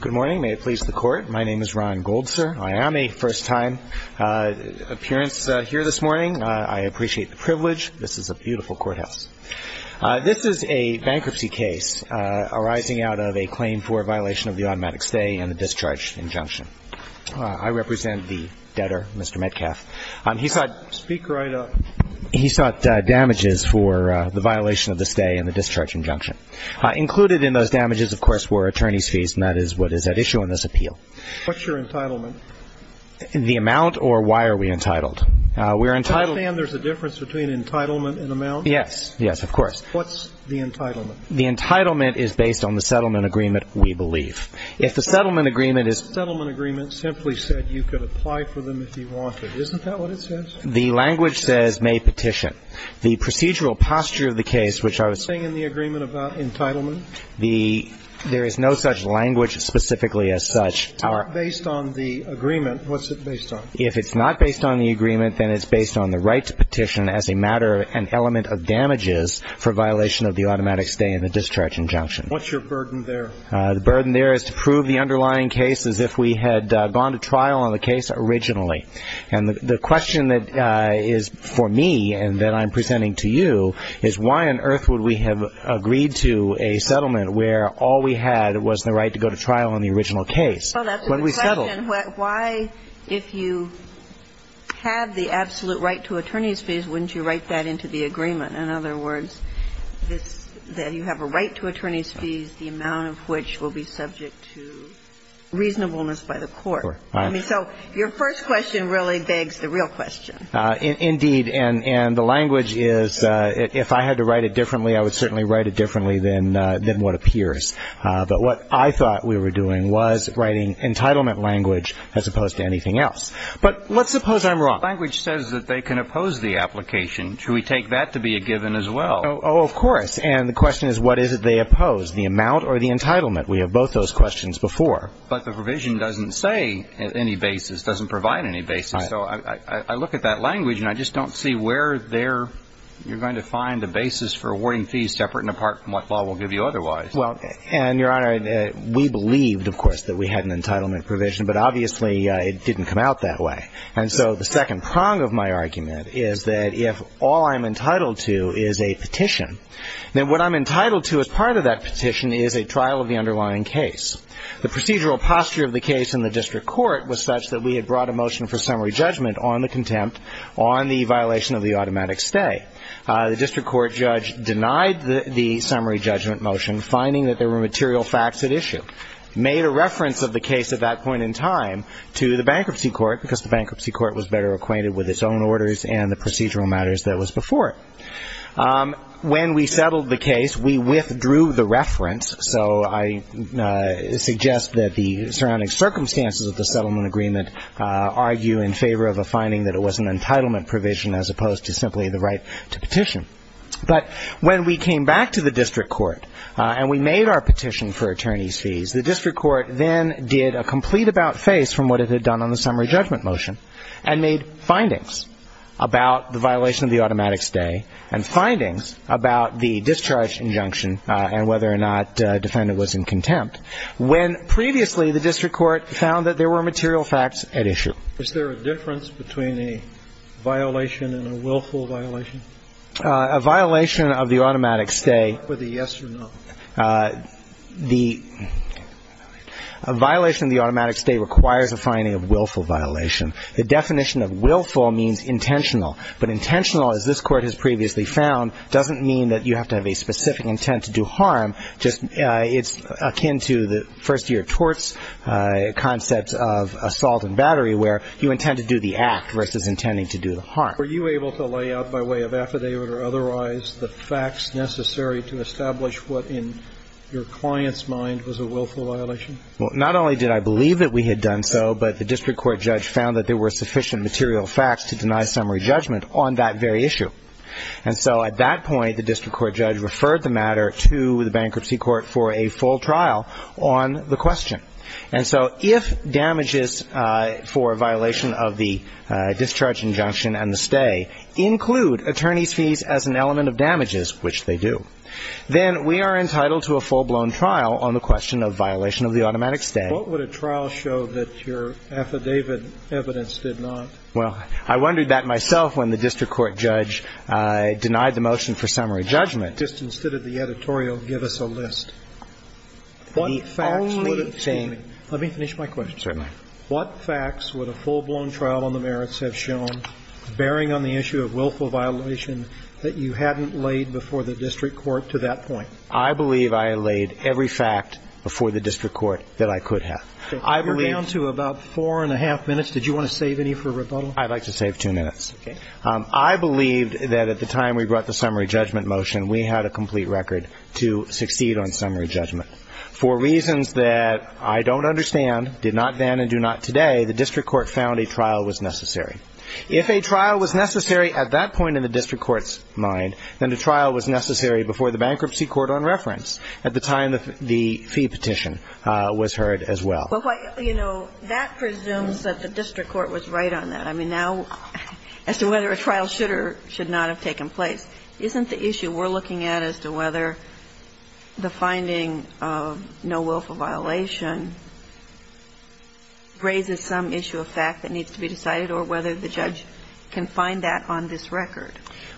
Good morning. May it please the Court. My name is Ron Gold, sir. I am a first-time appearance here this morning. I appreciate the privilege. This is a beautiful courthouse. This is a bankruptcy case arising out of a claim for violation of the automatic stay and the discharge injunction. I represent the debtor, Mr. Metcalf. He sought damages for the violation of the stay and the discharge injunction. Included in those damages, of course, is the settlement agreement. I have a question for Mr. Metcalf. What is your entitlement? The amount, or why are we entitled? Can you understand there's a difference between entitlement and amount? Yes, yes, of course. What's the entitlement? The entitlement is based on the settlement agreement, we believe. If the settlement agreement is The settlement agreement simply said you could apply for them if you wanted. Isn't that what it says? The language says may petition. The procedural posture of the case, which I was Is there anything in the agreement about entitlement? There is no such language specifically as such. Based on the agreement, what's it based on? If it's not based on the agreement, then it's based on the right to petition as a matter and element of damages for violation of the automatic stay and the discharge injunction. What's your burden there? The burden there is to prove the underlying case as if we had gone to trial on the case originally. And the question that is for me and that I'm presenting to you is why on earth would we have agreed to a settlement where all we had was the right to go to trial on the original case when we settled? Well, that's a good question. Why, if you had the absolute right to attorney's fees, wouldn't you write that into the agreement? In other words, that you have a right to attorney's fees, the amount of which will be subject to reasonableness by the court. Right. I mean, so your first question really begs the real question. Indeed. And the language is, if I had to write it differently, I would certainly write it differently than what appears. But what I thought we were doing was writing entitlement language as opposed to anything else. But let's suppose I'm wrong. Language says that they can oppose the application. Should we take that to be a given as well? Oh, of course. And the question is what is it they oppose, the amount or the entitlement? We have both those questions before. But the provision doesn't say any basis, doesn't provide any basis. Right. So I look at that language, and I just don't see where there you're going to find a basis for awarding fees separate and apart from what law will give you otherwise. Well, and, Your Honor, we believed, of course, that we had an entitlement provision. But obviously, it didn't come out that way. And so the second prong of my argument is that if all I'm entitled to is a petition, then what I'm entitled to as part of that petition is a trial of the underlying case. The procedural posture of the case in the district court was such that we had brought a motion for summary judgment on the contempt on the violation of the automatic stay. The district court judge denied the summary judgment motion, finding that there were material facts at issue, made a reference of the case at that point in time to the bankruptcy court, because the bankruptcy court was better acquainted with its own orders and the procedural matters that was before it. When we settled the case, we withdrew the reference. So I suggest that the surrounding circumstances of the settlement agreement argue in favor of a finding that it was an entitlement provision as opposed to simply the right to petition. But when we came back to the district court and we made our petition for attorney's fees, the district court then did a complete about-face from what it had done on the summary judgment motion and made findings about the violation of the automatic stay and findings about the discharge injunction and whether or not a defendant was in contempt, when previously the district court found that there were material facts at issue. Is there a difference between a violation and a willful violation? A violation of the automatic stay — Whether yes or no. The — a violation of the automatic stay requires a finding of willful violation. The definition of willful means intentional. But intentional, as this Court has previously found, doesn't mean that you have to have a specific intent to do harm. Just — it's akin to the first-year torts concepts of assault and battery, where you intend to do the act versus intending to do the harm. Were you able to lay out by way of affidavit or otherwise the facts necessary to establish what in your client's mind was a willful violation? Well, not only did I believe that we had done so, but the district court judge found that there were sufficient material facts to deny summary judgment on that very issue. And so at that point, the district court judge referred the matter to the bankruptcy court for a full trial on the question. And so if damages for a violation of the discharge injunction and the stay include attorneys' fees as an element of damages, which they do, then we are entitled to a automatic stay. What would a trial show that your affidavit evidence did not? Well, I wondered that myself when the district court judge denied the motion for summary judgment. Just instead of the editorial, give us a list. The only thing — Let me finish my question. Certainly. What facts would a full-blown trial on the merits have shown, bearing on the issue of willful violation, that you hadn't laid before the district court to that point? I believe I laid every fact before the district court that I could have. You're down to about four and a half minutes. Did you want to save any for rebuttal? I'd like to save two minutes. Okay. I believed that at the time we brought the summary judgment motion, we had a complete record to succeed on summary judgment. For reasons that I don't understand, did not then and do not today, the district court found a trial was necessary. If a trial was necessary at that point in the district court's mind, then a trial was necessary before the bankruptcy court on reference at the time the fee petition was heard as well. Well, you know, that presumes that the district court was right on that. I mean, now, as to whether a trial should or should not have taken place, isn't the issue we're looking at as to whether the finding of no willful violation raises some issue of fact that needs to be decided or whether the judge can find that on this record?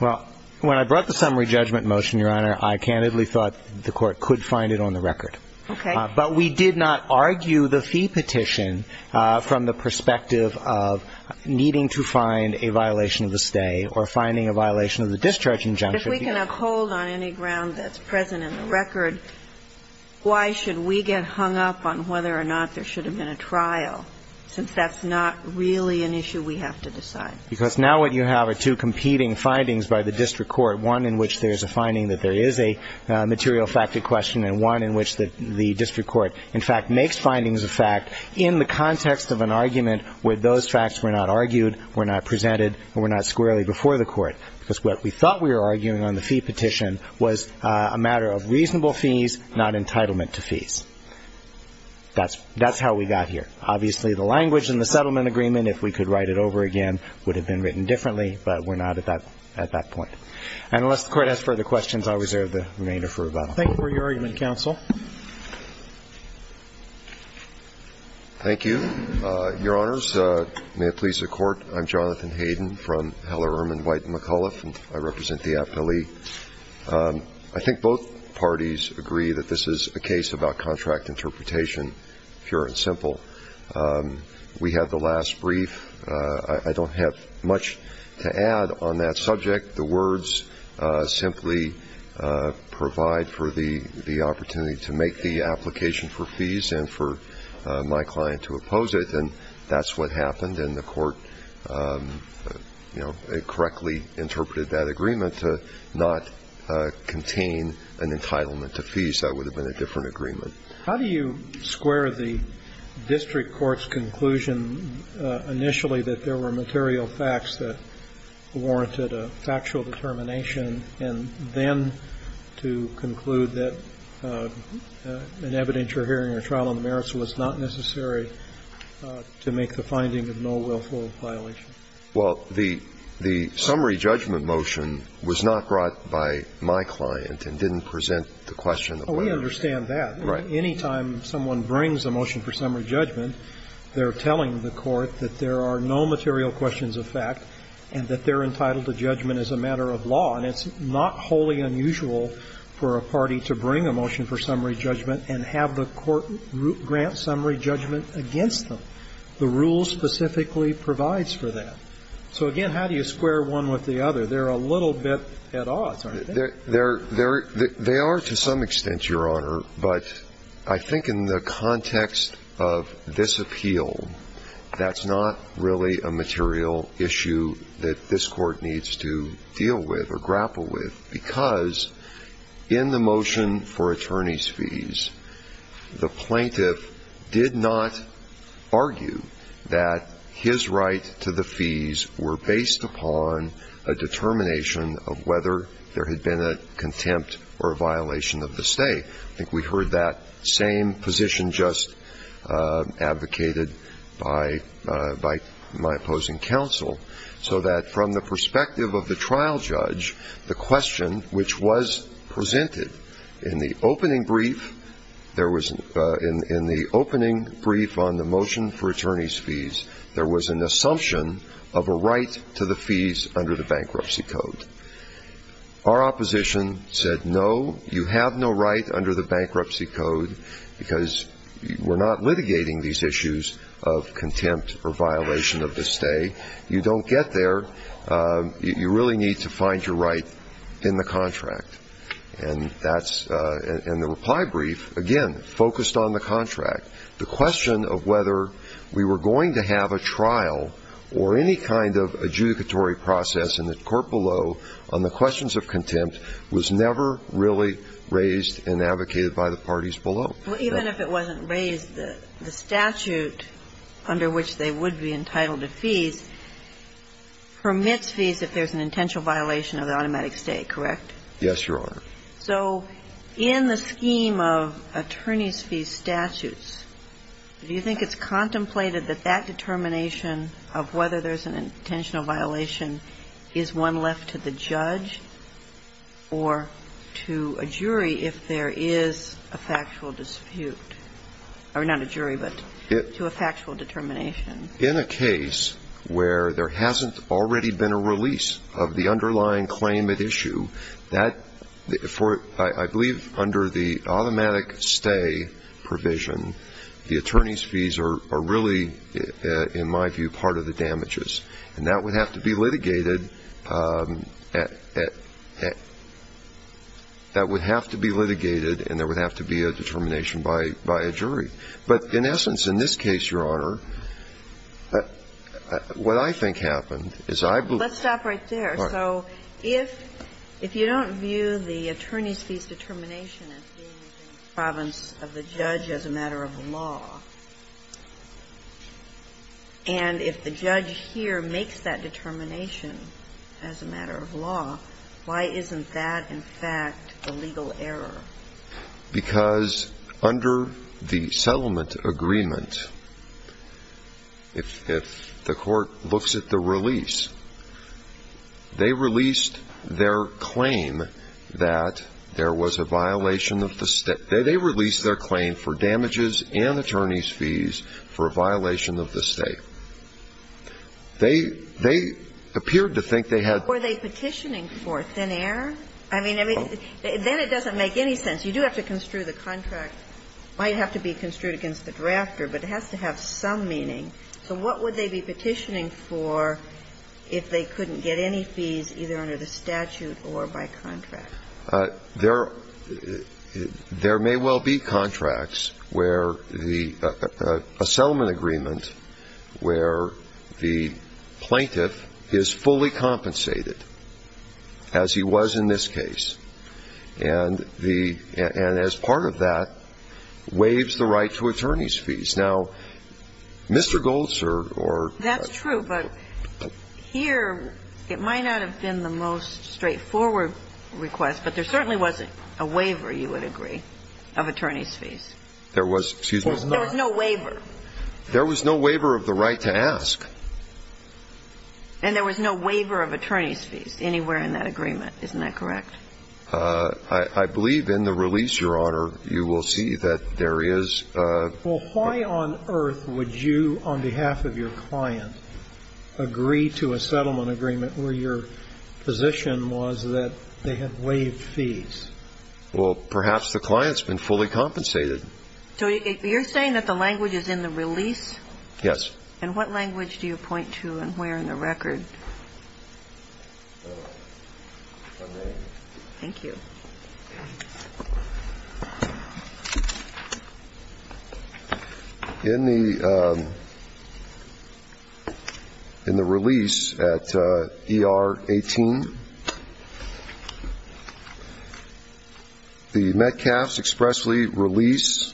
Well, when I brought the summary judgment motion, Your Honor, I candidly thought the court could find it on the record. Okay. But we did not argue the fee petition from the perspective of needing to find a violation of the stay or finding a violation of the discharge injunction. If we can uphold on any ground that's present in the record, why should we get hung up on whether or not there should have been a trial since that's not really an issue we have to decide? Because now what you have are two competing findings by the district court, one in which there's a finding that there is a material fact to question and one in which the district court, in fact, makes findings of fact in the context of an argument where those facts were not argued, were not presented, and were not squarely before the court. Because what we thought we were arguing on the fee petition was a matter of reasonable fees, not entitlement to fees. That's how we got here. Obviously, the language in the settlement agreement, if we could write it over again, would have been written differently, but we're not at that point. And unless the Court has further questions, I'll reserve the remainder for rebuttal. Thank you for your argument, counsel. Thank you. Your Honors, may it please the Court. I'm Jonathan Hayden from Heller, Ehrman, White & McAuliffe, and I represent the appellee. I think both parties agree that this is a case about contract interpretation, pure and simple. We had the last brief. I don't have much to add on that subject. The words simply provide for the opportunity to make the application for fees and for my client to oppose it, and that's what happened. And the Court, you know, correctly interpreted that agreement to not contain an entitlement to fees. That would have been a different agreement. How do you square the district court's conclusion initially that there were material facts that warranted a factual determination, and then to conclude that an evidence you're hearing in a trial on the merits was not necessary to make the finding of no willful violation? Well, the summary judgment motion was not brought by my client and didn't present the question of whether or not. Well, we understand that. Right. Any time someone brings a motion for summary judgment, they're telling the Court that there are no material questions of fact and that they're entitled to judgment as a matter of law, and it's not wholly unusual for a party to bring a motion for summary judgment and have the Court grant summary judgment against them. The rule specifically provides for that. So, again, how do you square one with the other? They're a little bit at odds, aren't they? They are to some extent, Your Honor, but I think in the context of this appeal, that's not really a material issue that this Court needs to deal with or grapple with because in the motion for attorney's fees, the plaintiff did not argue that his right to the fees were based upon a determination of whether there had been a contempt or a violation of the stay. I think we heard that same position just advocated by my opposing counsel, so that from the perspective of the trial judge, the question which was presented in the opening brief, there was an – in the opening brief on the motion for attorney's fees, there was an assumption of a right to the fees under the Bankruptcy Code. Our opposition said, no, you have no right under the Bankruptcy Code because we're not litigating these issues of contempt or violation of the stay. You don't get there. You really need to find your right in the contract. And that's – and the reply brief, again, focused on the contract. The question of whether we were going to have a trial or any kind of adjudicatory process in the court below on the questions of contempt was never really raised and advocated by the parties below. Well, even if it wasn't raised, the statute under which they would be entitled to fees permits fees if there's an intentional violation of the automatic stay, correct? Yes, Your Honor. So in the scheme of attorney's fees statutes, do you think it's contemplated that that determination of whether there's an intentional violation is one left to the judge or to a jury if there is a factual dispute? Or not a jury, but to a factual determination. In a case where there hasn't already been a release of the underlying claim at issue, that – for, I believe, under the automatic stay provision, the attorney's fees are really, in my view, part of the damages. And that would have to be litigated at – that would have to be litigated and there would have to be a determination by a jury. But in essence, in this case, Your Honor, what I think happened is I believe Let's stop right there. All right. So if you don't view the attorney's fees determination as being in the province of the judge as a matter of law, and if the judge here makes that determination as a matter of law, why isn't that, in fact, a legal error? Because under the settlement agreement, if the court looks at the release, they release their claim for damages and attorney's fees for a violation of the state. They – they appeared to think they had Were they petitioning for thin air? I mean, then it doesn't make any sense. You do have to construe the contract. It might have to be construed against the drafter, but it has to have some meaning. So what would they be petitioning for if they couldn't get any fees either under the statute or by contract? There may well be contracts where the – a settlement agreement where the plaintiff is fully compensated, as he was in this case, and the – and as part of that waives the right to attorney's fees. Now, Mr. Goldster or That's true, but here it might not have been the most straightforward request, but there certainly wasn't a waiver, you would agree, of attorney's fees. There was – excuse me. There was no waiver. There was no waiver of the right to ask. And there was no waiver of attorney's fees anywhere in that agreement. Isn't that correct? I believe in the release, Your Honor, you will see that there is a Well, why on earth would you, on behalf of your client, agree to a settlement agreement where your position was that they had waived fees? Well, perhaps the client's been fully compensated. So you're saying that the language is in the release? Yes. And what language do you point to and where in the record? Thank you. In the release at ER 18, the Metcalfs expressly release,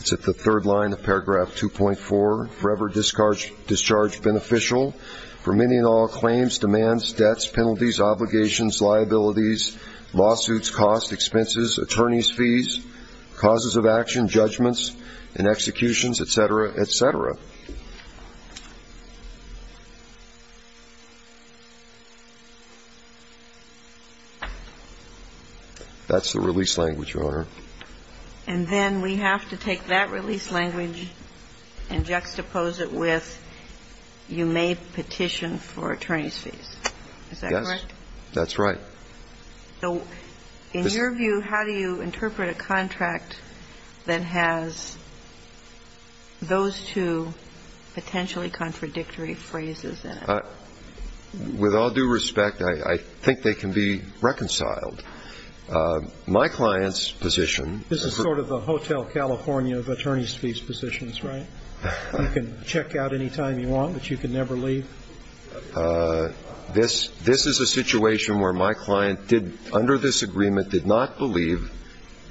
it's at the third line of paragraph 2.4, forever discharge beneficial for many and all claims, demands, debts, penalties, obligations, liabilities, lawsuits, cost, expenses, attorney's fees, causes of action, judgments and executions, et cetera, et cetera. That's the release language, Your Honor. And then we have to take that release language and juxtapose it with you may petition for attorney's fees. Is that correct? Yes. That's right. So in your view, how do you interpret a contract that has those two potentially contradictory phrases in it? With all due respect, I think they can be reconciled. My client's position This is sort of the Hotel California of attorney's fees positions, right? You can check out any time you want, but you can never leave. This is a situation where my client did, under this agreement, did not believe,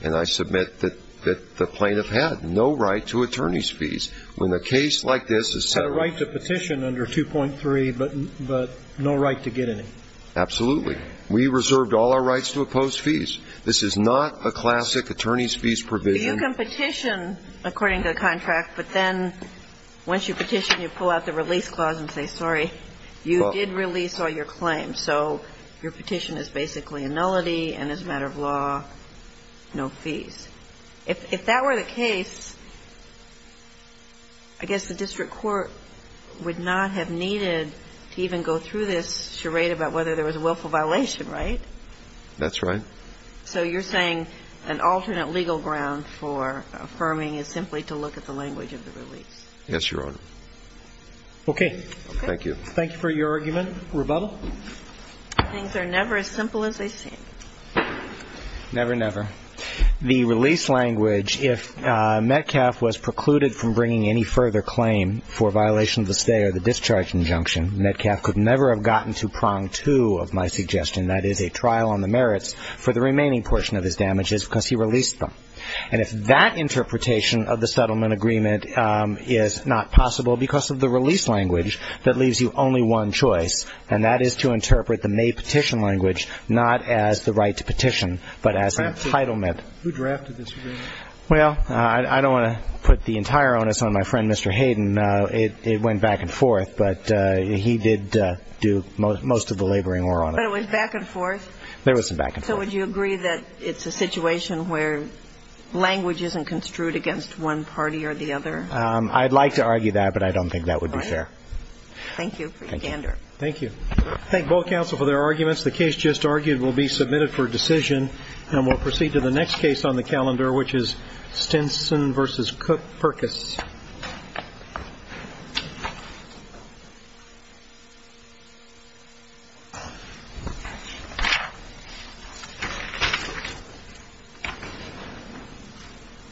and I submit that the plaintiff had no right to attorney's fees. When a case like this is set up Had a right to petition under 2.3, but no right to get any. Absolutely. We reserved all our rights to oppose fees. This is not a classic attorney's fees provision. You can petition according to the contract, but then once you petition, you pull out the release clause and say, sorry, you did release all your claims. So your petition is basically a nullity and as a matter of law, no fees. If that were the case, I guess the district court would not have needed to even go through this charade about whether there was a willful violation, right? That's right. So you're saying an alternate legal ground for affirming is simply to look at the language of the release. Yes, Your Honor. Okay. Thank you. Thank you for your argument. Rebuttal. Things are never as simple as they seem. Never, never. The release language, if Metcalf was precluded from bringing any further claim for violation of the stay or the discharge injunction, Metcalf could never have gotten to prong two of my suggestion. That is, a trial on the merits for the remaining portion of his damages because he released them. And if that interpretation of the settlement agreement is not possible because of the release language, that leaves you only one choice, and that is to interpret the May petition language not as the right to petition, but as an entitlement. Who drafted this agreement? Well, I don't want to put the entire onus on my friend Mr. Hayden. It went back and forth, but he did do most of the laboring work on it. But it went back and forth? There was some back and forth. So would you agree that it's a situation where language isn't construed against one party or the other? I'd like to argue that, but I don't think that would be fair. All right. Thank you for your gander. Thank you. Thank both counsel for their arguments. The case just argued will be submitted for decision, and we'll proceed to the next case on the calendar, which is Stinson v. Perkis. Thank you.